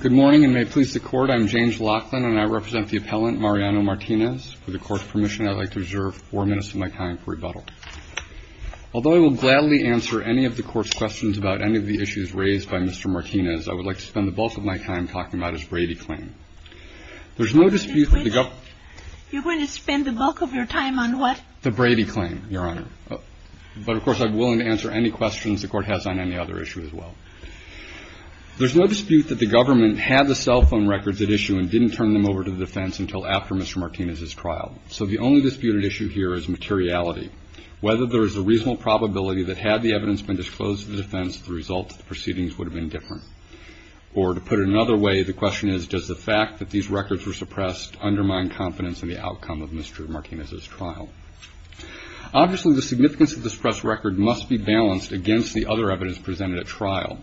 Good morning, and may it please the Court, I am James Laughlin, and I represent the appellant Mariano Martinez. For the Court's permission, I would like to reserve four minutes of my time for rebuttal. Although I will gladly answer any of the Court's questions about any of the issues raised by Mr. Martinez, I would like to spend the bulk of my time talking about his Brady claim. There is no dispute that the Governor's— You're going to spend the bulk of your time on what? The Brady claim, Your Honor. But of course, I'm willing to answer any questions the Court has on any other issue as well. There's no dispute that the Government had the cell phone records at issue and didn't turn them over to the defense until after Mr. Martinez's trial. So the only dispute at issue here is materiality. Whether there is a reasonable probability that had the evidence been disclosed to the defense, the results of the proceedings would have been different. Or to put it another way, the question is, does the fact that these records were suppressed undermine confidence in the outcome of Mr. Martinez's trial? Obviously, the significance of the suppressed record must be balanced against the other evidence presented at trial.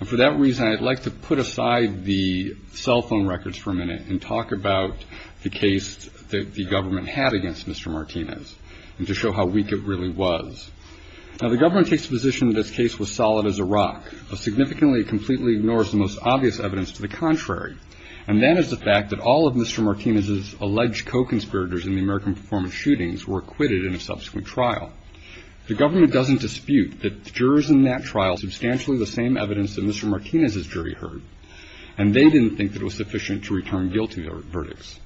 And for that reason, I'd like to put aside the cell phone records for a minute and talk about the case that the Government had against Mr. Martinez and to show how weak it really was. Now, the Government takes the position that this case was solid as a rock. But significantly, it completely ignores the most obvious evidence to the contrary. And that is the fact that all of Mr. Martinez's alleged co-conspirators in the American performance shootings were acquitted in a subsequent trial. The Government doesn't dispute that jurors in that trial substantially the same evidence that Mr. Martinez's jury heard. And they didn't think that it was sufficient to return guilty to their verdicts.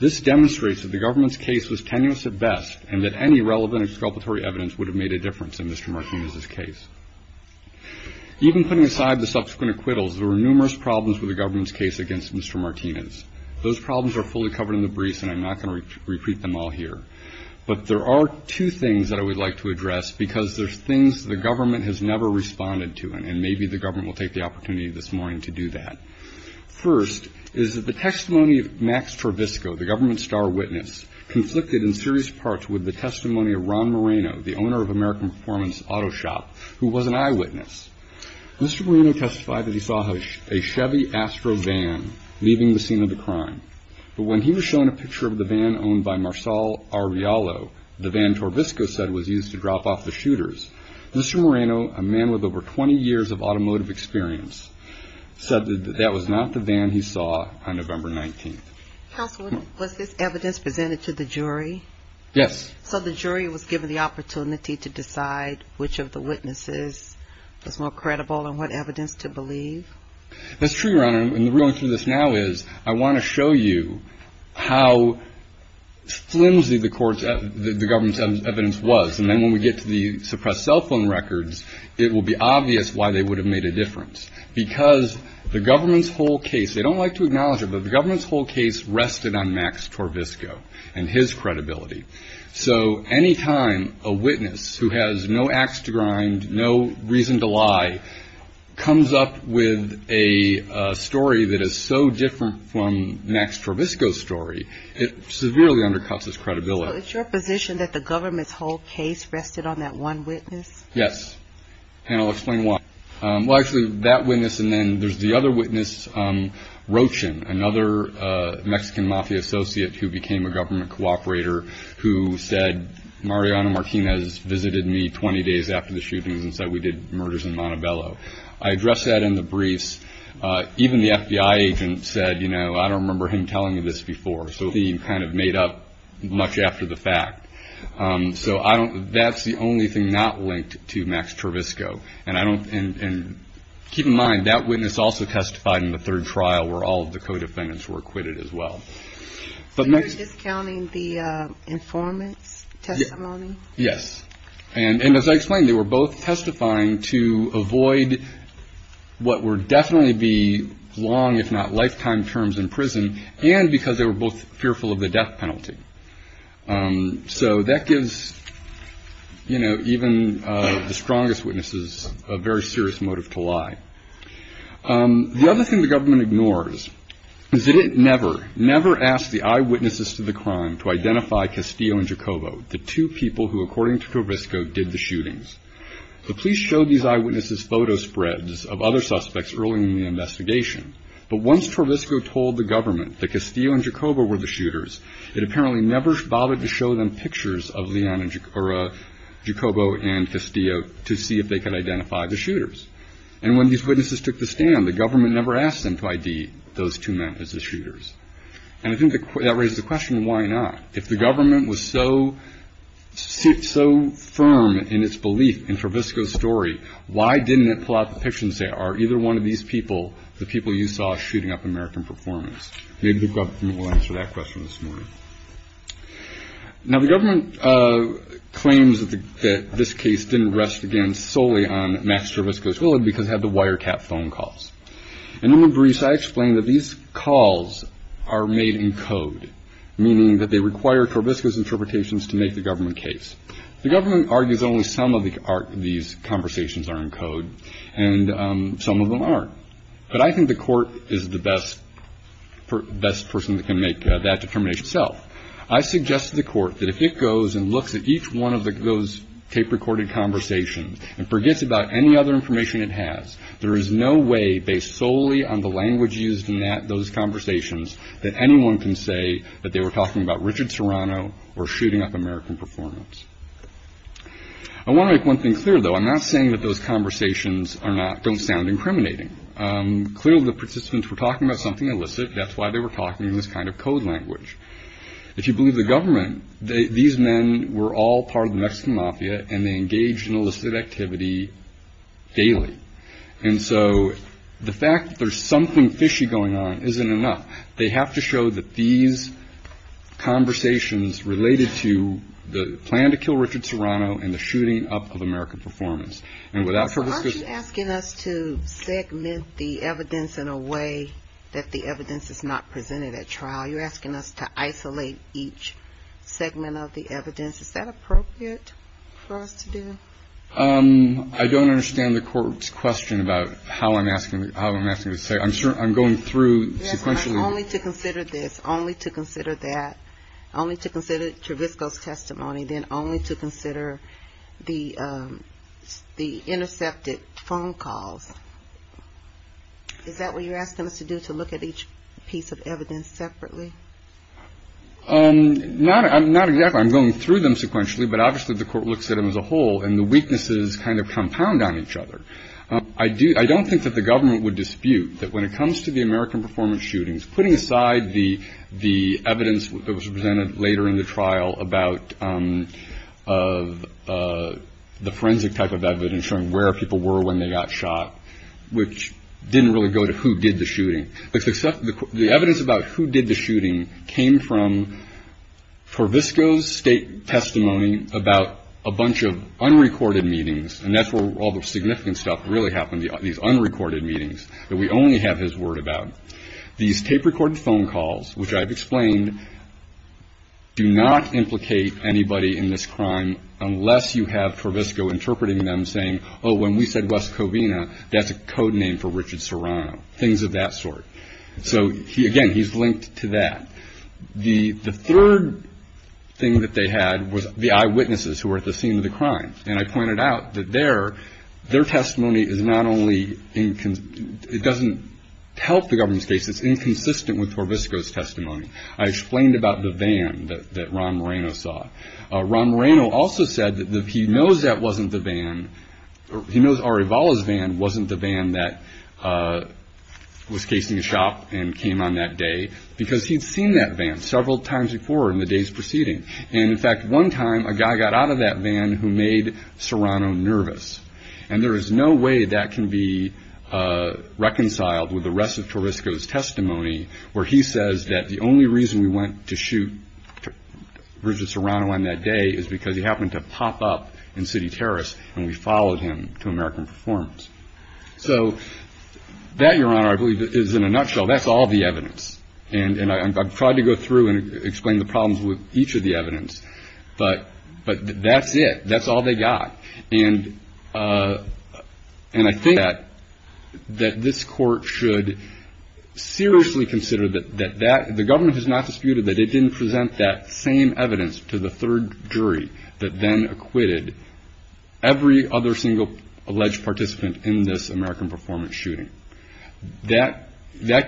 This demonstrates that the Government's case was tenuous at best and that any relevant exculpatory evidence would have made a difference in Mr. Martinez's case. Even putting aside the subsequent acquittals, there were numerous problems with the Government's case against Mr. Martinez. Those problems are fully covered in the briefs, and I'm not going to repeat them all here. But there are two things that I would like to address because there's things the Government has never responded to. And maybe the Government will take the opportunity this morning to do that. First is that the testimony of Max Travisco, the Government's star witness, conflicted in serious parts with the testimony of Ron Moreno, the owner of American Performance Auto Shop, who was an eyewitness. Mr. Moreno testified that he saw a Chevy Astro van leaving the scene of the crime. But when he was shown a picture of the van owned by Marsal Arrealo, the van Travisco said was used to drop off the shooters, Mr. Moreno, a man with over 20 years of automotive experience, said that that was not the van he saw on November 19th. House, was this evidence presented to the jury? Yes. So the jury was given the opportunity to decide which of the witnesses was more credible and what evidence to believe? That's true, Your Honor. And the reason I'm doing this now is I want to show you how flimsy the Government's evidence was. And then when we get to the suppressed cell phone records, it will be obvious why they would have made a difference. Because the Government's whole case, they don't like to acknowledge it, but the Government's whole case rested on Max Travisco and his credibility. So any time a witness who has no axe to grind, no reason to lie, comes up with a story that is so different from Max Travisco's story, it severely undercuts his credibility. So it's your position that the Government's whole case rested on that one witness? Yes. And I'll explain why. Well, actually, that witness and then there's the other witness, Rochin, another Mexican mafia associate who became a government cooperator, who said, Mariana Martinez visited me 20 days after the shootings and said we did murders in Montebello. I addressed that in the briefs. Even the FBI agent said, you know, I don't remember him telling me this before. So he kind of made up much after the fact. So I don't, that's the only thing not linked to Max Travisco. And I don't, and keep in mind, that witness also testified in the third trial where all of the co-defendants were acquitted as well. So you're discounting the informant's testimony? Yes. And as I explained, they were both testifying to avoid what would definitely be long, if not lifetime, terms in prison and because they were both fearful of the death penalty. So that gives, you know, even the strongest witnesses a very serious motive to lie. The other thing the government never asked the eyewitnesses to the crime to identify Castillo and Giacobbo, the two people who, according to Travisco, did the shootings. The police showed these eyewitnesses photo spreads of other suspects early in the investigation. But once Travisco told the government that Castillo and Giacobbo were the shooters, it apparently never bothered to show them pictures of Giacobbo and Castillo to see if they could identify the shooters. And when these witnesses took the stand, the government never asked them to ID those two men as the shooters. And I think that raises the question, why not? If the government was so firm in its belief in Travisco's story, why didn't it pull out the pictures and say, are either one of these people the people you saw shooting up American performance? Maybe the government will answer that question this morning. Now, the government claims that this case didn't rest, again, solely on Max or Kat phone calls. And I explained that these calls are made in code, meaning that they require Travisco's interpretations to make the government case. The government argues only some of these conversations are in code, and some of them aren't. But I think the court is the best person that can make that determination itself. I suggest to the court that if it goes and looks at each one of those tape-recorded conversations and forgets about any other information it has, there is no way, based solely on the language used in those conversations, that anyone can say that they were talking about Richard Serrano or shooting up American performance. I want to make one thing clear, though. I'm not saying that those conversations don't sound incriminating. Clearly, the participants were talking about something illicit. That's why they were talking in this kind of code language. If you believe the government, these men were all part of the Mexican mafia, and they engaged in illicit activity daily. And so, the fact that there's something fishy going on isn't enough. They have to show that these conversations related to the plan to kill Richard Serrano and the shooting up of American performance. And without Travisco's... Aren't you asking us to segment the evidence in a way that the evidence is not presented at trial? You're asking us to isolate each segment of the evidence. Is that appropriate for us to do? I don't understand the court's question about how I'm asking to say. I'm going through sequentially... Only to consider this, only to consider that, only to consider Travisco's testimony, then only to consider the intercepted phone calls. Is that what you're asking us to do, to look at each piece of evidence separately? Not exactly. I'm going through them sequentially, but obviously the court looks at them as a whole, and the weaknesses kind of compound on each other. I don't think that the government would dispute that when it comes to the American performance shootings, putting aside the evidence that was presented later in the trial about the forensic type of evidence, showing where people were when they got shot, which didn't really go to who did the shooting. The evidence about who did the shooting came from Travisco's state testimony about a bunch of unrecorded meetings, and that's where all the significant stuff really happened, these unrecorded meetings that we only have his word about. These tape-recorded phone calls, which I've explained, do not implicate anybody in this crime unless you have Travisco interpreting them saying, oh, when we said Wes Covina, that's a code name for Richard Serrano, things of that sort. So, again, he's linked to that. The third thing that they had was the eyewitnesses who were at the scene of the crime, and I pointed out that their testimony is not only inconsistent, it doesn't help the government's case, it's inconsistent with Travisco's testimony. I explained about the van that Ron Moreno saw. Ron Moreno also said that he knows that wasn't the van, he knows Arivala's van wasn't the van that was casing a shop and came on that day, because he'd seen that van several times before in the days preceding, and in fact, one time a guy got out of that van who made Serrano nervous, and there is no way that can be reconciled with the rest of Travisco's testimony, where he says that the only reason we went to shoot Richard Serrano on that day is because he happened to pop up in City Terrace and we followed him to American Performance. So that, Your Honor, I believe is in a nutshell, that's all the evidence, and I've tried to go through and explain the problems with each of the evidence, but that's it, that's all they got, and I think that this Court should seriously consider that the government has not disputed that it didn't present that same evidence to the third jury that then acquitted every other single alleged participant in this American Performance shooting. That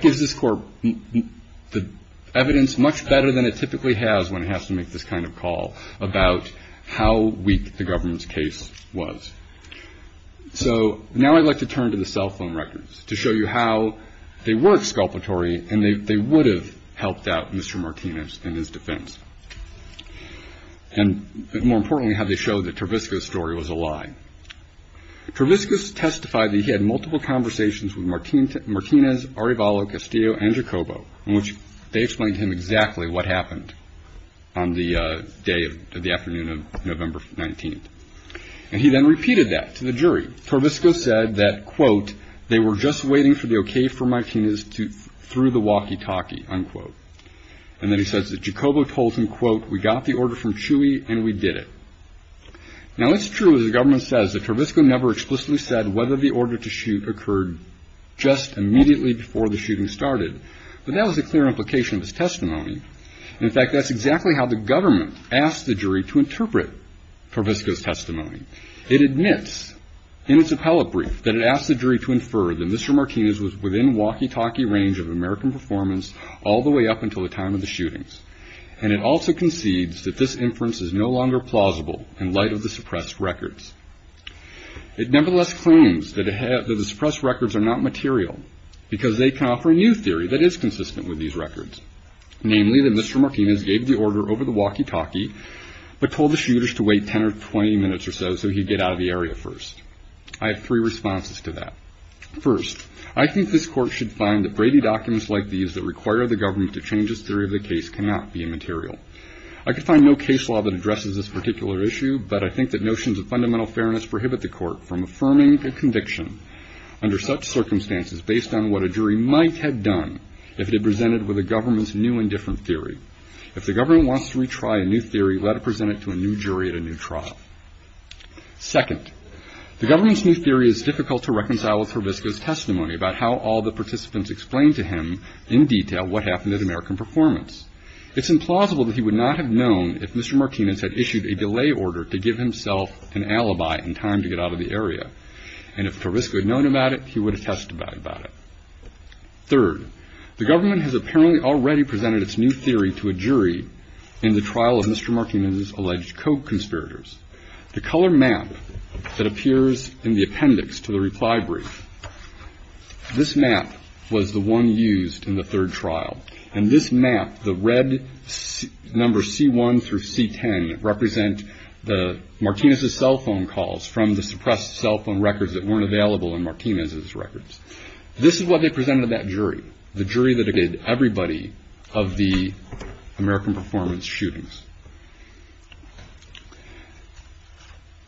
gives this Court the evidence much better than it typically has when it has to make this kind of call about how weak the government's case was. So now I'd like to turn to the cell phone records to show you how they were exculpatory and they were false. And more importantly, how they showed that Travisco's story was a lie. Travisco's testified that he had multiple conversations with Martinez, Arivalo, Castillo, and Jacobo, in which they explained to him exactly what happened on the day of the afternoon of November 19th. And he then repeated that to the jury. Travisco said that, quote, they were just waiting for the okay for the jury to interpret Travisco's testimony. It admits in its appellate brief that it asked the jury to infer that Mr. Martinez was within walkie-talkie range of American Performance all the way up until the time of the shootings. And it also concedes that this inference is no longer plausible in light of the suppressed records. It nevertheless claims that the suppressed records are not material because they confer a new theory that is consistent with these records, namely that Mr. Martinez gave the order over the walkie-talkie but told the shooters to wait 10 or 20 minutes or so so he'd get out of the area first. I have three responses to that. First, I think this Court should find that Brady documents like these that require the government to change its theory of the case cannot be immaterial. I could find no case law that addresses this particular issue, but I think that notions of fundamental fairness prohibit the Court from affirming a conviction under such circumstances based on what a jury might have done if it had presented with a government's new and different theory. If the government wants to retry a new theory, let it present it to a new jury at a new trial. Second, the government's new theory is difficult to reconcile with in detail what happened at American Performance. It's implausible that he would not have known if Mr. Martinez had issued a delay order to give himself an alibi in time to get out of the area, and if Tarvisco had known about it, he would have testified about it. Third, the government has apparently already presented its new theory to a jury in the trial of Mr. Martinez's alleged coke conspirators. The color map that appears in the appendix to the reply brief, this map was the one used in the third trial, and this map, the red numbers C1 through C10 represent the Martinez's cell phone calls from the suppressed cell phone records that weren't available in Martinez's records. This is what they presented to that jury, the jury that did everybody of the American Performance shootings.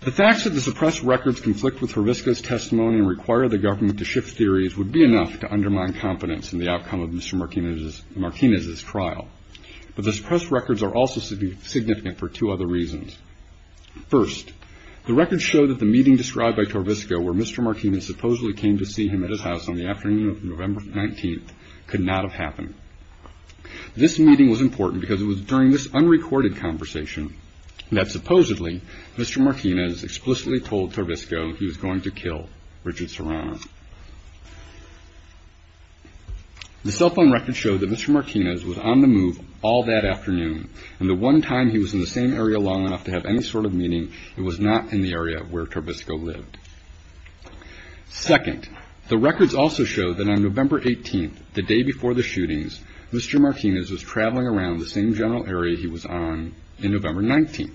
The facts of the suppressed records conflict with Tarvisco's theory enough to undermine confidence in the outcome of Mr. Martinez's trial, but the suppressed records are also significant for two other reasons. First, the records show that the meeting described by Tarvisco where Mr. Martinez supposedly came to see him at his house on the afternoon of November 19th could not have happened. This meeting was important because it was during this unrecorded conversation that supposedly Mr. Martinez explicitly told Tarvisco he was on the move. The cell phone records show that Mr. Martinez was on the move all that afternoon, and the one time he was in the same area long enough to have any sort of meeting, it was not in the area where Tarvisco lived. Second, the records also show that on November 18th, the day before the shootings, Mr. Martinez was traveling around the same general area he was on in November 19th.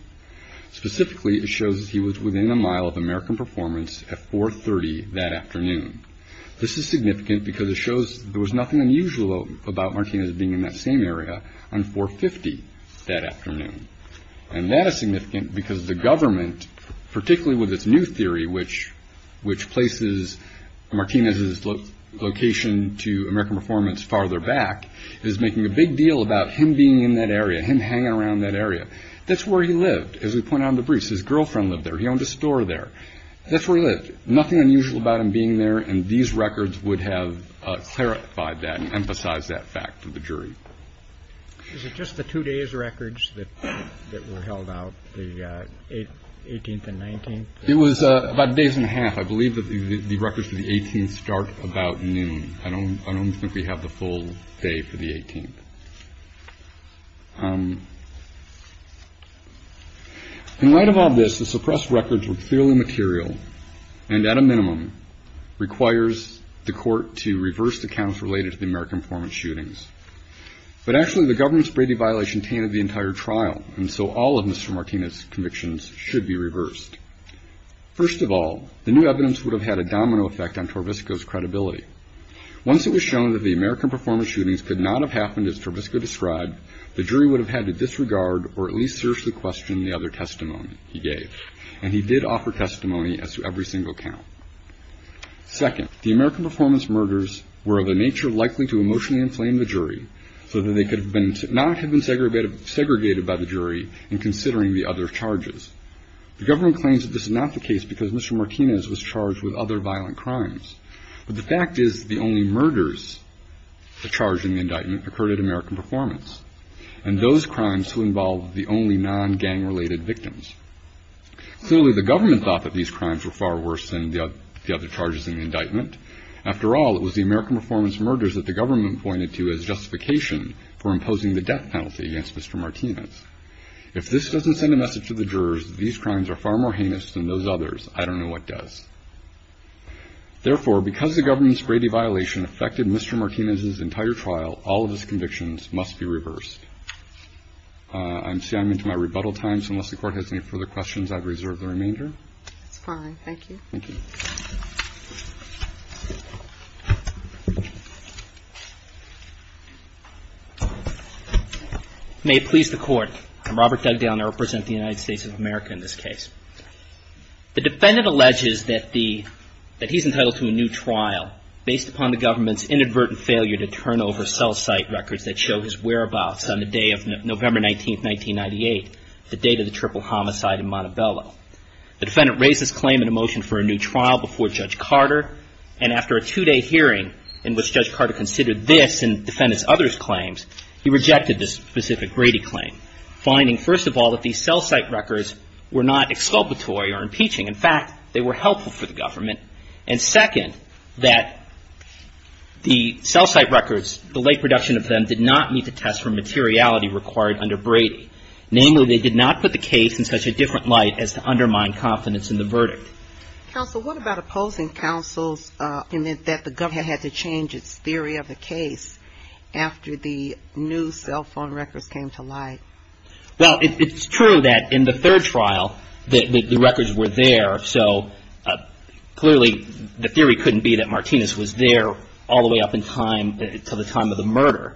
Specifically, it shows he was within a mile of American Performance at 430 that afternoon. This is significant because it shows there was nothing unusual about Martinez being in that same area on 450 that afternoon. And that is significant because the government, particularly with its new theory which places Martinez's location to American Performance farther back, is making a big deal about him being in that area, him hanging around that area. That's where he lived, as we point out in the briefs. His girlfriend lived there. He owned a store there. That's where he lived. Nothing unusual about him being there, and these records would have clarified that and emphasized that fact to the jury. Is it just the two days' records that were held out, the 18th and 19th? It was about days and a half. I believe that the records for the 18th start about noon. I don't think we have the full day for the 18th. In light of all this, the suppressed records were clearly material and, at a minimum, requires the court to reverse the counts related to the American Performance shootings. But actually, the government's Brady violation tainted the entire trial, and so all of Mr. Martinez's convictions should be reversed. First of all, the new evidence would have had a domino effect on Torvisco's credibility. Once it was shown that the American Performance shootings could not have happened as Torvisco described, the jury would have had to disregard or at least seriously question the other testimony he gave, and he did offer testimony as to every single count. Second, the American Performance murders were of a nature likely to emotionally inflame the jury so that they could not have been segregated by the jury in considering the other charges. The government claims that this is not the case because Mr. Martinez was charged with other violent crimes, but the fact is the only murders charged in the indictment occurred at American Performance, and those crimes involved the only non-gang related victims. Clearly, the government thought that these crimes were far worse than the other charges in the indictment. After all, it was the American Performance murders that the government pointed to as justification for imposing the death penalty against Mr. Martinez. If this doesn't send a message to the jurors that these crimes are far more heinous than those others, I don't know what does. Therefore, because the government's Brady violation affected Mr. Martinez's entire trial, all of his I'm seeing I'm into my rebuttal time, so unless the Court has any further questions, I've reserved the remainder. That's fine. Thank you. Thank you. May it please the Court. I'm Robert Dugdale, and I represent the United States of America in this case. The defendant alleges that the, that he's entitled to a new trial based upon the government's inadvertent failure to turn over cell site records that show his whereabouts on the day of November 19th, 1998, the date of the triple homicide in Montebello. The defendant raised his claim in a motion for a new trial before Judge Carter, and after a two-day hearing in which Judge Carter considered this and defendants' other claims, he rejected this specific Brady claim, finding, first of all, that these cell site records were not exculpatory or impeaching. In fact, they were helpful for the of them did not need to test for materiality required under Brady. Namely, they did not put the case in such a different light as to undermine confidence in the verdict. Counsel, what about opposing counsel's, in that, that the government had to change its theory of the case after the new cell phone records came to light? Well, it, it's true that in the third trial that, that the records were there, so clearly the theory couldn't be that Martinez was there all the way up in time, to the time of the murder.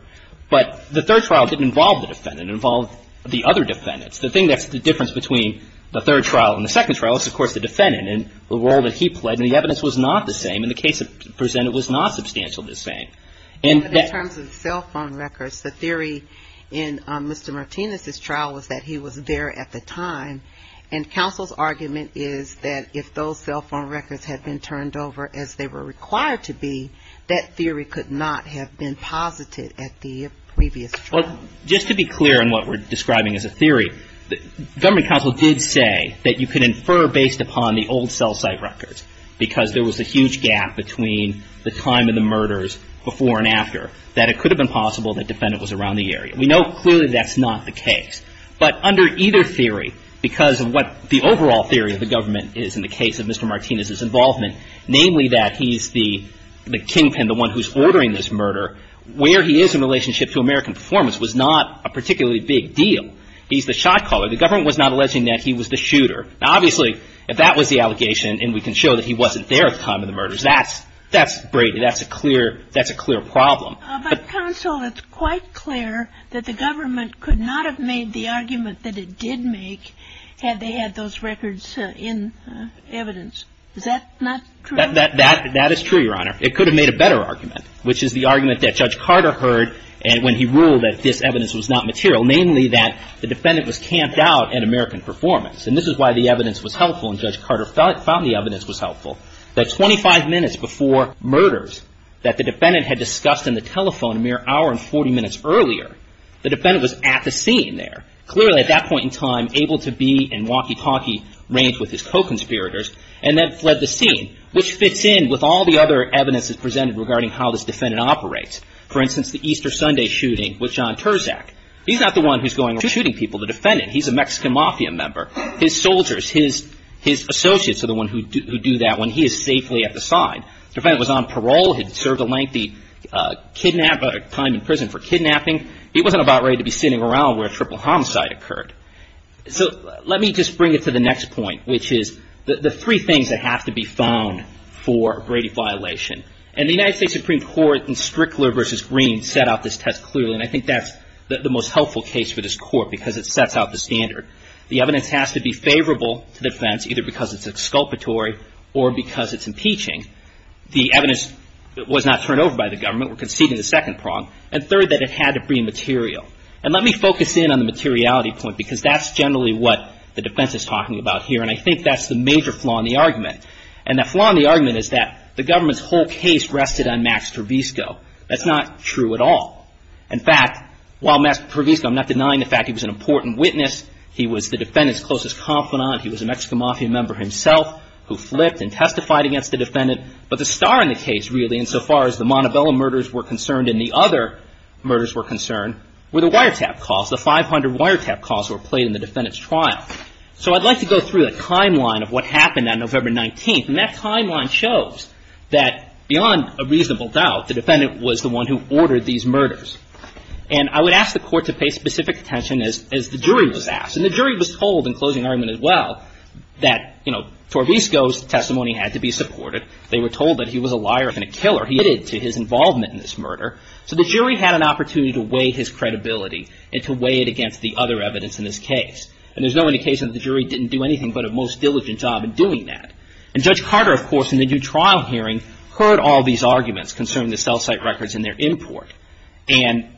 But the third trial didn't involve the defendant, it involved the other defendants. The thing that's the difference between the third trial and the second trial is, of course, the defendant, and the role that he played, and the evidence was not the same, and the case presented was not substantially the same. And that- But in terms of cell phone records, the theory in Mr. Martinez's trial was that he was there at the time, and counsel's argument is that if those cell phone records had been turned over as they were required to be, that theory could not have been posited at the previous trial. Well, just to be clear in what we're describing as a theory, the government counsel did say that you could infer based upon the old cell site records, because there was a huge gap between the time of the murders before and after, that it could have been possible that the defendant was around the area. We know clearly that's not the case. But under either theory, because of what the overall theory of the government is in the case of Mr. Martinez's involvement, namely that he's the kingpin, the one who's ordering this murder, where he is in relationship to American performance was not a particularly big deal. He's the shot caller. The government was not alleging that he was the shooter. Now, obviously, if that was the allegation, and we can show that he wasn't there at the time of the murders, that's braided. That's a clear problem. But, counsel, it's quite clear that the government could not have made the argument that it did make had they had those records in evidence. Is that not true? That is true, Your Honor. It could have made a better argument, which is the argument that Judge Carter heard when he ruled that this evidence was not material, namely that the defendant was camped out at American performance. And this is why the evidence was helpful, and Judge Carter found the evidence was helpful, that 25 minutes before murders that the defendant had discussed in the telephone a mere hour and 40 minutes earlier, the defendant was at the scene there, clearly at that point in time able to be in walkie-talkie range with his co-conspirators, and then fled the scene, which fits in with all the other evidence that's presented regarding how this defendant operates. For instance, the Easter Sunday shooting with John Terzak. He's not the one who's going around shooting people. The defendant, he's a Mexican Mafia member. His soldiers, his associates are the ones who do that when he is safely at the side. The defendant was on parole, had served a lengthy time in prison for kidnapping. He wasn't about ready to be sitting around where a triple homicide occurred. So let me just bring it to the next point, which is the three things that have to be found for a Brady violation. And the United States Supreme Court in Strickler v. Green set out this test clearly, and I think that's the most helpful case for this Court because it sets out the standard. The evidence has to be favorable to defense, either because it's exculpatory or because it's impeaching. The evidence was not turned over by the government. We're conceding the second prong. And third, that it had to be material. And let me focus in on the materiality point because that's generally what the defense is talking about here. And I think that's the major flaw in the argument. And the flaw in the argument is that the government's whole case rested on Max Trevisco. That's not true at all. In fact, while Max Trevisco, I'm not denying the fact he was an important witness, he was the defendant's closest confidant. He was a Mexican Mafia member himself who flipped and testified against the defendant. But the star in the case, really, insofar as the Montebello murders were concerned and the other murders were concerned, were the wiretap calls. The 500 wiretap calls were played in the defendant's trial. So I'd like to go through a timeline of what happened on November 19th. And that timeline shows that, beyond a reasonable doubt, the defendant was the one who ordered these murders. And I would ask the Court to pay specific attention, as the jury was asked. And the jury was told, in closing argument as well, that, you know, Trevisco's testimony had to be supported. They were told that the jury had to pay specific attention to his involvement in this murder. So the jury had an opportunity to weigh his credibility and to weigh it against the other evidence in this case. And there's no indication that the jury didn't do anything but a most diligent job in doing that. And Judge Carter, of course, in the new trial hearing, heard all these arguments concerning the cell site records and their import. And,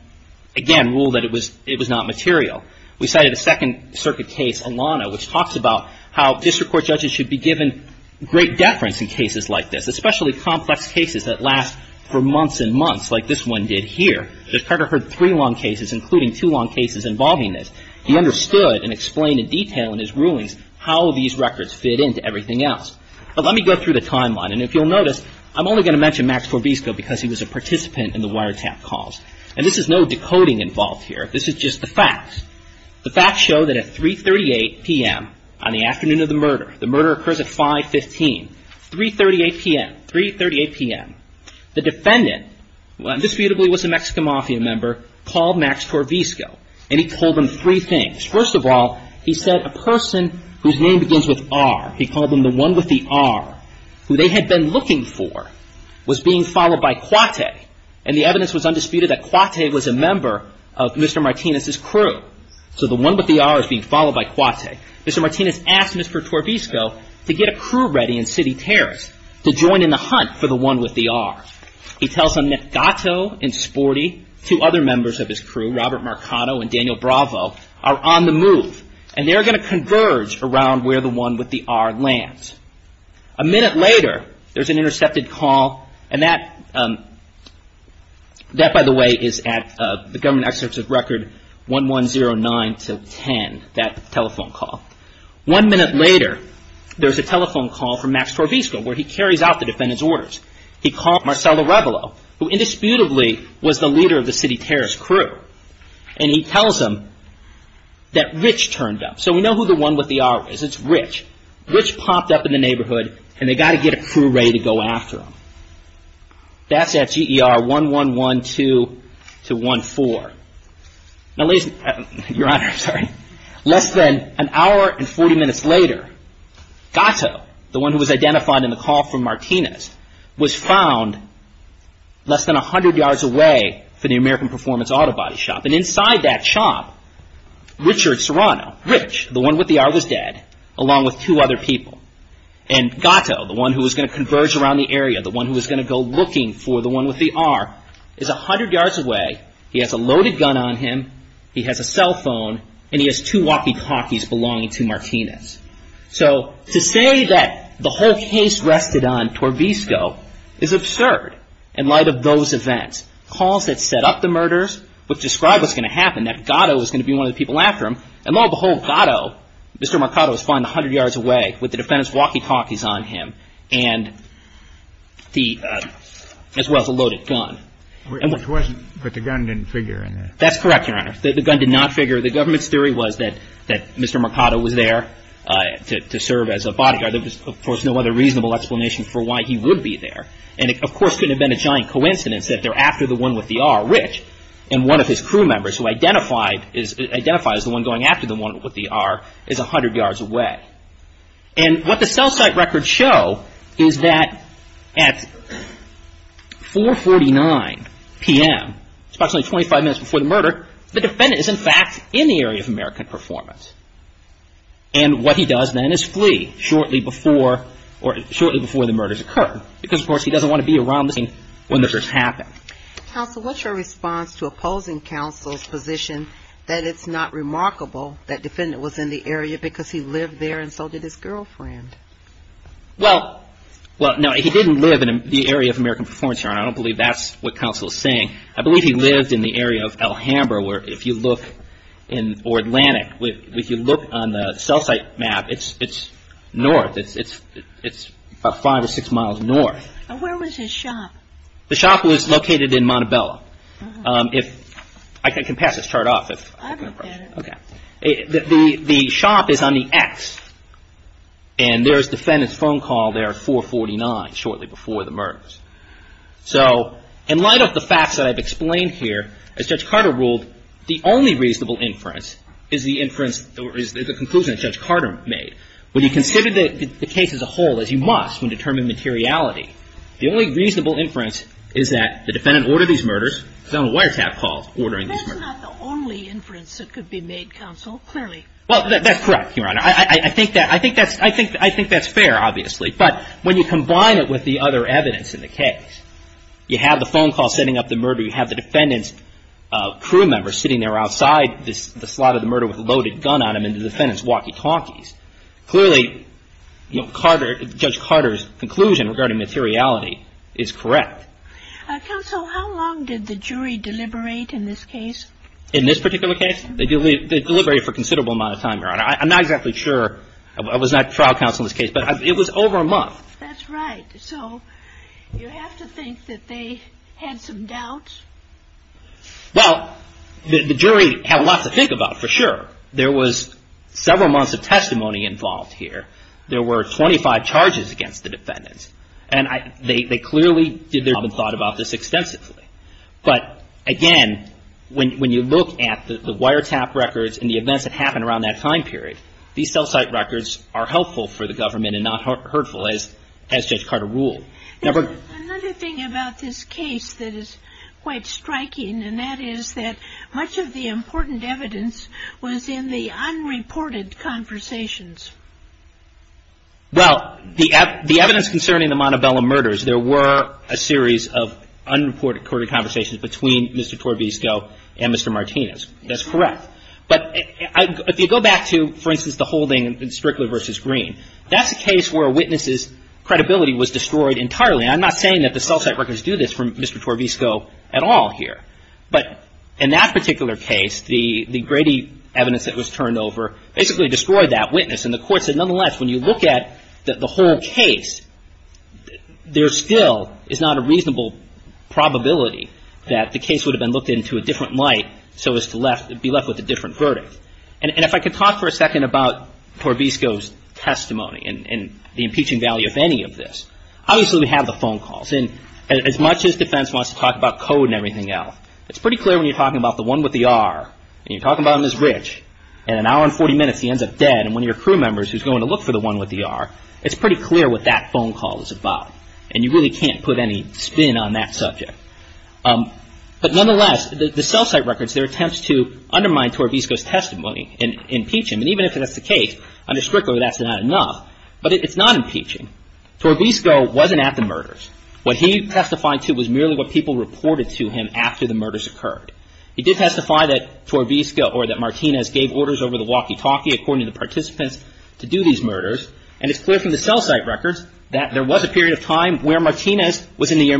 again, ruled that it was not material. We cited a Second Circuit case, Alano, which talks about how district court judges should be given great deference in cases like this, especially complex cases that last for months and months, like this one did here. Judge Carter heard three long cases, including two long cases, involving this. He understood and explained in detail in his rulings how these records fit into everything else. But let me go through the timeline. And if you'll notice, I'm only going to mention Max Trevisco because he was a participant in the wiretap calls. And this is no decoding involved here. This is just the facts. The facts show that at 3.38 p.m. on the afternoon of the murder, the murder occurs at 5.15, 3.38 p.m., 3.38 p.m., the defendant, who indisputably was a Mexican mafia member, called Max Trevisco. And he told him three things. First of all, he said a person whose name begins with R, he called him the one with the R, who they had been looking for, was being followed by Cuate. And the evidence was undisputed that Cuate was a member of Mr. Martinez's crew. So the one with the R is being followed by Cuate. Mr. Martinez asked Mr. Trevisco to get a crew ready in City Terrace to join in the hunt for the one with the R. He tells him that Gato and Sporty, two other members of his crew, Robert Marcato and Daniel Bravo, are on the move. And they're going to converge around where the one with the R lands. A minute later, there's an intercepted call. And that, by the way, is at the government excerpts of Record 1109-10. That telephone call. One minute later, there's a telephone call from Max Trevisco, where he carries out the defendant's orders. He called Marcel Arevalo, who indisputably was the leader of the City Terrace crew. And he tells him that Rich turned up. So we know who the one with the R is. It's Rich. Rich popped up in the neighborhood, and they got to get a crew ready to go after him. That's at GER 1112-14. Now, ladies and gentlemen, Your Honor, less than an hour and 40 minutes later, Gato, the one who was identified in the call from Martinez, was found less than a hundred yards away from the American Performance Auto Body Shop. And inside that shop, Richard Serrano, Rich, the one with the R, was dead, along with two other people. And Gato, the one who was going to converge around the area, the one who was going to go looking for the one with the R, is a hundred yards away. He has a loaded gun on him. He has a cell phone. And he has two walkie-talkies belonging to Martinez. So to say that the whole case rested on Trevisco is absurd, in light of those events. Calls that set up the murders, which describe what's going to happen, that Gato is going to be one of the people after him. And lo and behold, Gato, Mr. Marcato, is found a hundred yards away with the defendant's walkie-talkies on him, as well as a loaded gun. Which wasn't, but the gun didn't figure in it. That's correct, Your Honor. The gun did not figure. The government's theory was that Mr. Marcato was there to serve as a bodyguard. There was, of course, no other reasonable explanation for why he would be there. And it, of course, couldn't have been a giant coincidence that they're after the one with the R. Rich and one of his crew members, who identified as the one going after the one with the R, is a hundred yards away. And what the cell site records show is that at 4.49 p.m., approximately 25 minutes before the murder, the defendant is, in fact, in the area of American performance. And what he does then is flee shortly before the murders occur. Because, of course, he doesn't want to be around the scene when the murders happen. Counsel, what's your response to opposing counsel's position that it's not Well, no, he didn't live in the area of American performance, Your Honor. I don't believe that's what counsel is saying. I believe he lived in the area of El Hambra, where if you look in Atlantic, if you look on the cell site map, it's north. It's about five or six miles north. And where was his shop? The shop was located in Montebello. I can pass this chart off if you have any questions. I don't get it. Okay. The shop is on the X. And there's defendant's phone call there at 4.49, shortly before the murders. So in light of the facts that I've explained here, as Judge Carter ruled, the only reasonable inference is the inference or the conclusion that Judge Carter made. When you consider the case as a whole, as you must when determining materiality, the only reasonable inference is that the defendant ordered these murders, found a wiretap call ordering these murders. But that's not the only inference that could be made, counsel, clearly. Well, that's correct, Your Honor. I think that's fair, obviously. But when you combine it with the other evidence in the case, you have the phone call setting up the murder, you have the defendant's crew member sitting there outside the slot of the murder with a loaded gun on him, and the defendant's walkie-talkies. Clearly, Judge Carter's conclusion regarding materiality is correct. Counsel, how long did the jury deliberate in this case? In this particular case? They deliberated for a considerable amount of time, Your Honor. I'm not exactly sure. I was not trial counsel in this case. But it was over a month. That's right. So you have to think that they had some doubts? Well, the jury had a lot to think about, for sure. There was several months of testimony involved here. There were 25 charges against the defendants. And they clearly did their job and thought about this extensively. But again, when you look at the wiretap records and the events that happened around that time period, these cell site records are helpful for the government and not hurtful, as Judge Carter ruled. Another thing about this case that is quite striking, and that is that much of the important evidence was in the unreported conversations. Well, the evidence concerning the Montebello murders, there were a series of unreported conversations between Mr. Torvisco and Mr. Martinez. That's correct. But if you go back to, for instance, the holding in Strickler v. Green, that's a case where a witness's credibility was destroyed entirely. I'm not saying that the cell site records do this for Mr. Torvisco at all here. But in that particular case, the Grady evidence that was turned over basically destroyed that witness. And the court said, nonetheless, when you look at the whole case, there still is not a reasonable probability that the case would have been looked into a different light so as to be left with a different verdict. And if I could talk for a second about Torvisco's testimony and the impeaching value of any of this. Obviously, we have the phone calls. And as much as defense wants to talk about code and everything else, it's pretty clear when you're talking about the one with the R, and you're talking about him as rich, in an and one of your crew members who's going to look for the one with the R, it's pretty clear what that phone call is about. And you really can't put any spin on that subject. But nonetheless, the cell site records, there are attempts to undermine Torvisco's testimony and impeach him. And even if that's the case, under Strickler, that's not enough. But it's not impeaching. Torvisco wasn't at the murders. What he testified to was merely what people reported to him after the murders occurred. He did testify that Torvisco or that Martinez gave orders over the walkie-talkie, according to the participants, to do these murders. And it's clear from the cell site records that there was a period of time where Martinez was in the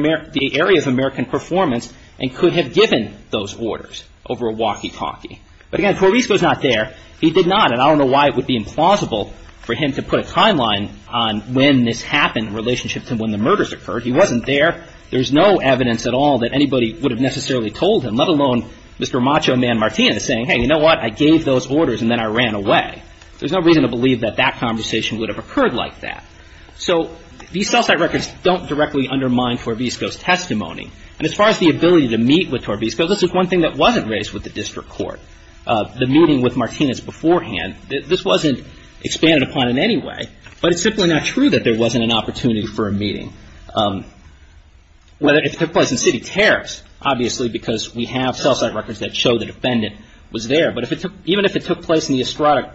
area of American performance and could have given those orders over a walkie-talkie. But again, Torvisco's not there. He did not. And I don't know why it would be implausible for him to put a timeline on when this happened in relationship to when the murders occurred. He wasn't there. There's no evidence at all that anybody would have necessarily told him, let alone Mr. Macho Man Martinez saying, hey, you know what, I gave those orders and then I ran away. There's no reason to believe that that conversation would have occurred like that. So these cell site records don't directly undermine Torvisco's testimony. And as far as the ability to meet with Torvisco, this is one thing that wasn't raised with the district court, the meeting with Martinez beforehand. This wasn't expanded upon in any way. But it's simply not true that there wasn't an opportunity for a meeting. Whether it took place in city tariffs, obviously, because we have cell site records that show the defendant was there. But even if it took place in the Estrada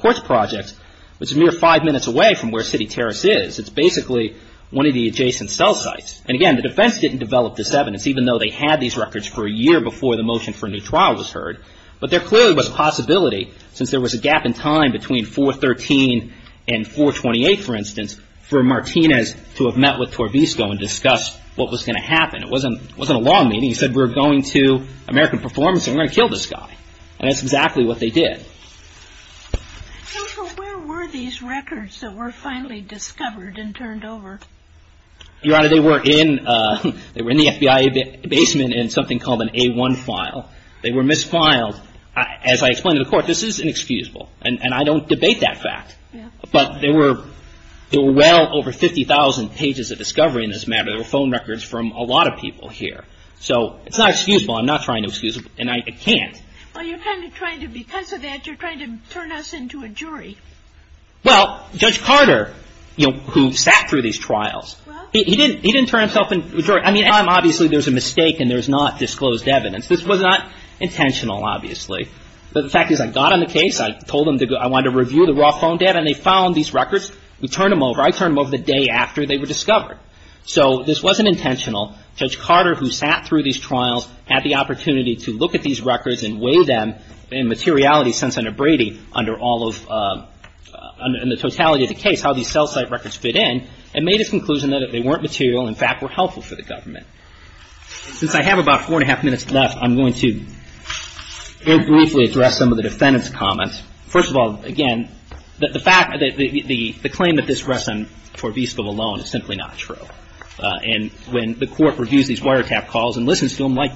Courts Project, which is a mere five minutes away from where city tariffs is, it's basically one of the adjacent cell sites. And again, the defense didn't develop this evidence, even though they had these records for a year before the motion for a new trial was heard. But there clearly was a possibility, since there was a gap in time between 4-13 and 4-28, for instance, for Martinez to have met with Torvisco and discussed what was going to happen. It wasn't a long meeting. He said, we're going to American Performance, and we're going to kill this guy. And that's exactly what they did. And so where were these records that were finally discovered and turned over? Your Honor, they were in the FBI basement in something called an A1 file. They were misfiled. As I explained to the court, this is inexcusable. And I don't debate that fact. But there were well over 50,000 pages of discovery in this matter. There were phone records from a lot of people here. So it's not excusable. I'm not trying to excuse it. And I can't. Well, you're kind of trying to, because of that, you're trying to turn us into a jury. Well, Judge Carter, you know, who sat through these trials, he didn't turn himself into a jury. I mean, obviously, there's a mistake, and there's not disclosed evidence. This was not intentional, obviously. But the fact is, I got on the case. I told them I wanted to review the raw phone data. And they found these records. We turned them over. I turned them over the day after they were discovered. So this wasn't intentional. Judge Carter, who sat through these trials, had the opportunity to look at these records and weigh them in materiality, sense under Brady, under all of the totality of the case, how these cell site records fit in, and made his conclusion that they weren't material, in fact, were helpful for the government. Since I have about four and a half minutes left, I'm going to very briefly address some of the defendant's comments. First of all, again, the fact, the expression, for Visco alone, is simply not true. And when the court reviews these wiretap calls and listens to them like,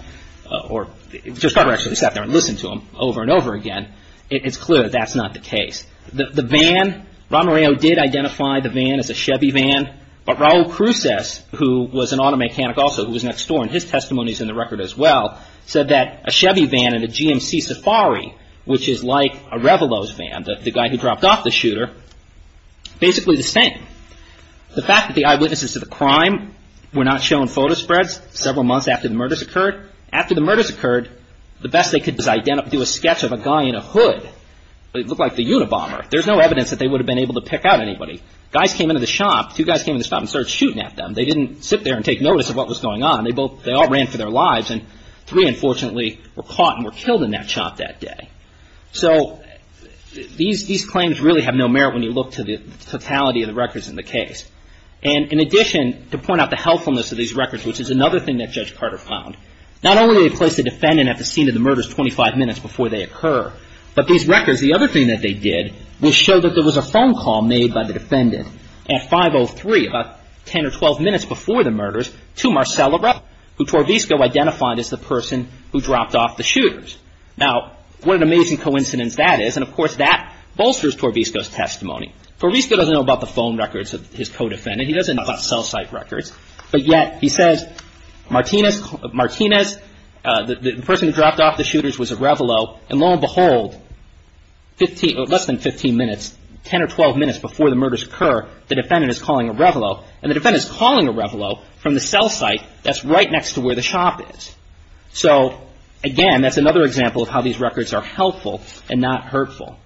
or Judge Carter actually sat there and listened to them over and over again, it's clear that that's not the case. The van, Romareo did identify the van as a Chevy van. But Raul Cruces, who was an auto mechanic also, who was next door, and his testimony is in the record as well, said that a Chevy van and a GMC Safari, which is like a The fact that the eyewitnesses to the crime were not shown photo spreads several months after the murders occurred, after the murders occurred, the best they could do is do a sketch of a guy in a hood. It looked like the Unabomber. There's no evidence that they would have been able to pick out anybody. Guys came into the shop, two guys came into the shop and started shooting at them. They didn't sit there and take notice of what was going on. They all ran for their lives. And three, unfortunately, were caught and killed in that shop that day. So these claims really have no merit when you look to the totality of the records in the case. And in addition, to point out the helpfulness of these records, which is another thing that Judge Carter found, not only did he place the defendant at the scene of the murders 25 minutes before they occur, but these records, the other thing that they did, was show that there was a phone call made by the defendant at 5.03, about 10 or 12 minutes before the murders, to Marcella Rupp, who was a shooter. Now, what an amazing coincidence that is. And of course, that bolsters Torvisco's testimony. Torvisco doesn't know about the phone records of his co-defendant. He doesn't know about cell site records. But yet, he says, Martinez, the person who dropped off the shooters was a Revelo. And lo and behold, less than 15 minutes, 10 or 12 minutes before the murders occur, the defendant is calling a Revelo. And the defendant is calling a Revelo from the cell site that's right next to where the shop is. So again, that's another example of how these records are helpful and not hurtful.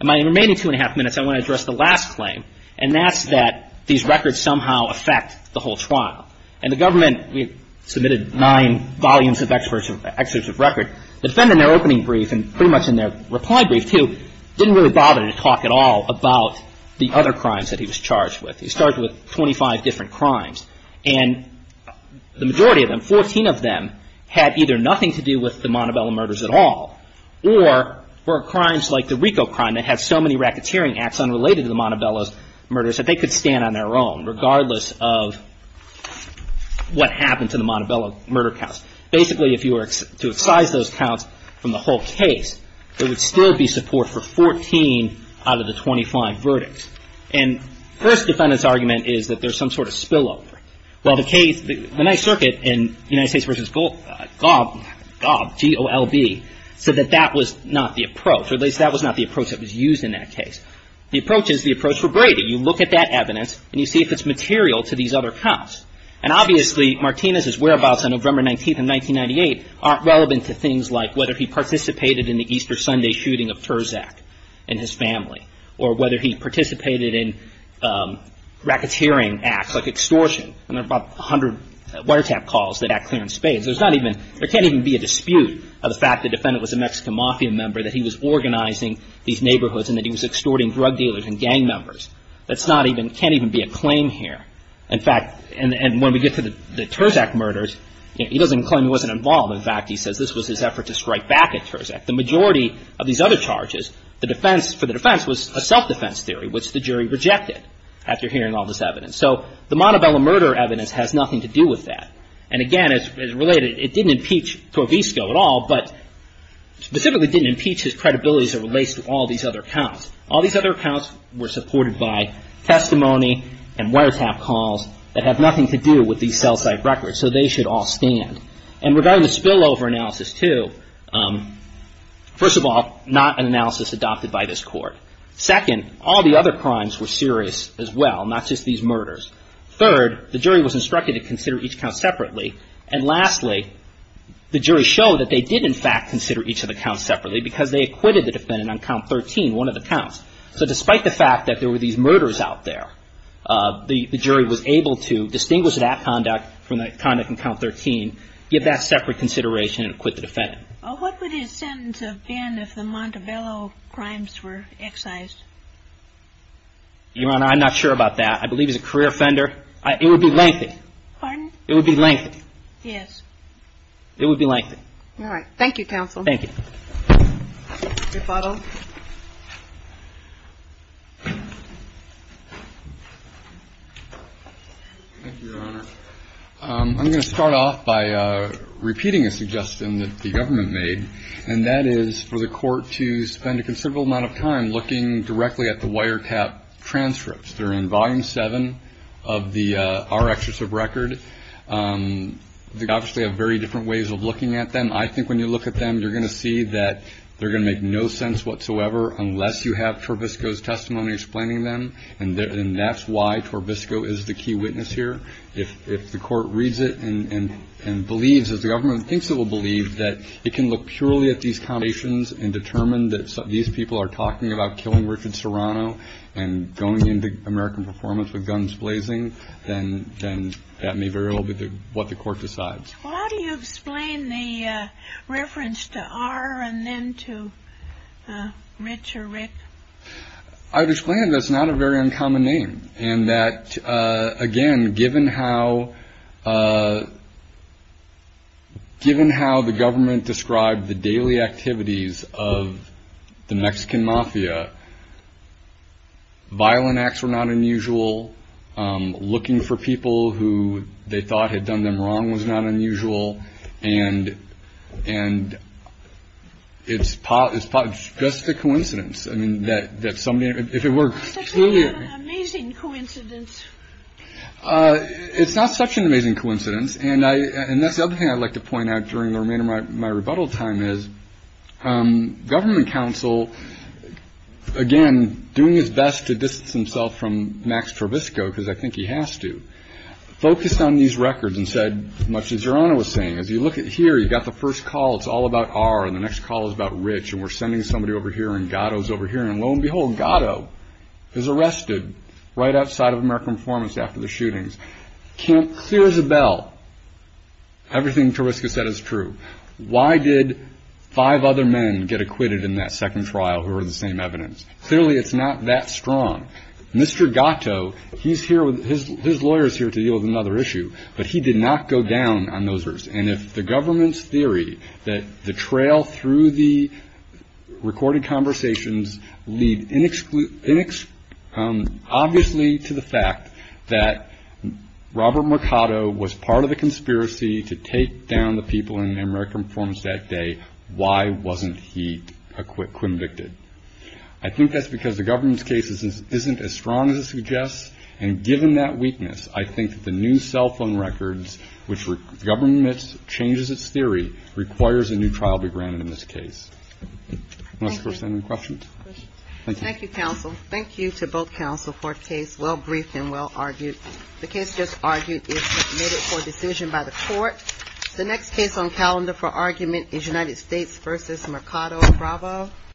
In my remaining two and a half minutes, I want to address the last claim, and that's that these records somehow affect the whole trial. And the government, we submitted nine volumes of excerpts of record. The defendant, in their opening brief and pretty much in their reply brief, too, didn't really bother to talk at all about the other crimes that he was charged with. He started with 25 different crimes. And the majority of them, 14 of them, had either nothing to do with the Montebello murders at all, or were crimes like the Rico crime that had so many racketeering acts unrelated to the Montebello murders that they could stand on their own, regardless of what happened to the Montebello murder counts. Basically, if you were to excise those counts from the whole case, there would still be support for 14 out of the 25 verdicts. And first defendant's argument is that there's some sort of spillover. Well, the case, the Ninth Circuit in United States v. Gob, G-O-L-B, said that that was not the approach, or at least that was not the approach that was used in that case. The approach is the approach for Brady. You look at that evidence, and you see if it's material to these other counts. And obviously, Martinez's whereabouts on November 19th of 1998 aren't relevant to things like whether he participated in the Easter Sunday shooting of Terzak and his family, or whether he participated in racketeering acts like extortion. And there are about 100 wiretap calls that act clear in spades. There's not even, there can't even be a dispute of the fact the defendant was a Mexican mafia member, that he was organizing these neighborhoods, and that he was extorting drug dealers and gang members. That's not even, can't even be a claim here. In fact, and when we get to the Terzak murders, he doesn't claim he wasn't involved. In fact, he says this was his effort to strike back at Terzak. The majority of these other charges, the defense, for the defense, was a self-defense theory, which the jury rejected after hearing all this evidence. So the Montebello murder evidence has nothing to do with that. And again, as related, it didn't impeach Torvisco at all, but specifically didn't impeach his credibility as it relates to all these other counts. All these other counts were supported by testimony and wiretap calls that have nothing to do with these sell-side records, so they should all stand. And regarding the spillover analysis too, first of all, not an analysis adopted by this Court. Second, all the other crimes were serious as well, not just these murders. Third, the jury was instructed to consider each count separately. And lastly, the jury showed that they did, in fact, consider each of the counts separately because they acquitted the defendant on count 13, one of the counts. So despite the fact that there were these murders out there, the jury was able to distinguish that conduct from the conduct on count 13, give that separate consideration, and acquit the defendant. Well, what would his sentence have been if the Montebello crimes were excised? Your Honor, I'm not sure about that. I believe he's a career offender. It would be lengthy. Pardon? It would be lengthy. Yes. It would be lengthy. All right. Thank you, counsel. Thank you. Mr. Foddle. Thank you, Your Honor. I'm going to start off by repeating a suggestion that the government made, and that is for the Court to spend a considerable amount of time looking directly at the wiretap transcripts. They're in Volume 7 of our excerpts of record. They obviously have very different ways of looking at them. I think when you look at them, you're going to see that they're going to make no sense whatsoever unless you have Torbisco's testimony explaining them, and that's why Torbisco is the key witness here. If the Court reads it and believes, as the government thinks it will believe, that it can look purely at these foundations and are talking about killing Richard Serrano and going into American performance with guns blazing, then that may very well be what the Court decides. Why do you explain the reference to R and then to Rich or Rick? I've explained that it's not a very uncommon name, and that, again, given how the government described the daily activities of the Mexican mafia, violent acts were not unusual. Looking for people who they thought had done them wrong was not unusual, and it's just a coincidence. That's not an amazing coincidence. It's not such an amazing coincidence, and that's the other thing I'd like to point out during the remainder of my rebuttal time is government counsel, again, doing his best to distance himself from Max Torbisco because I think he has to, focused on these records and said, as much as Serrano was saying, as you look here, you've got the first call, it's all about R, and the next call is about Rich, and we're sending somebody over here and Gatto's over here, and lo and behold, Gatto is arrested right outside of American performance after the shootings. Clear as a bell, everything Torbisco said is true. Why did five other men get acquitted in that second trial who were the same evidence? Clearly it's not that strong. Mr. Gatto, his lawyer is here to deal with another issue, but he did not go down on those risks, and if the government's theory that the trail through the recorded conversations lead obviously to the fact that Robert Mercado was part of the conspiracy to take down the people in American performance that day, why wasn't he convicted? I think that's because the government's case isn't as strong as it suggests, and given that weakness, I think the new cell phone records, which the government changes its theory, requires a new trial be granted in this case. Thank you, counsel. Thank you to both counsel for a case well-briefed and well-argued. The case just argued is submitted for decision by the court. The next case on calendar for argument is United States versus Mercado Bravo.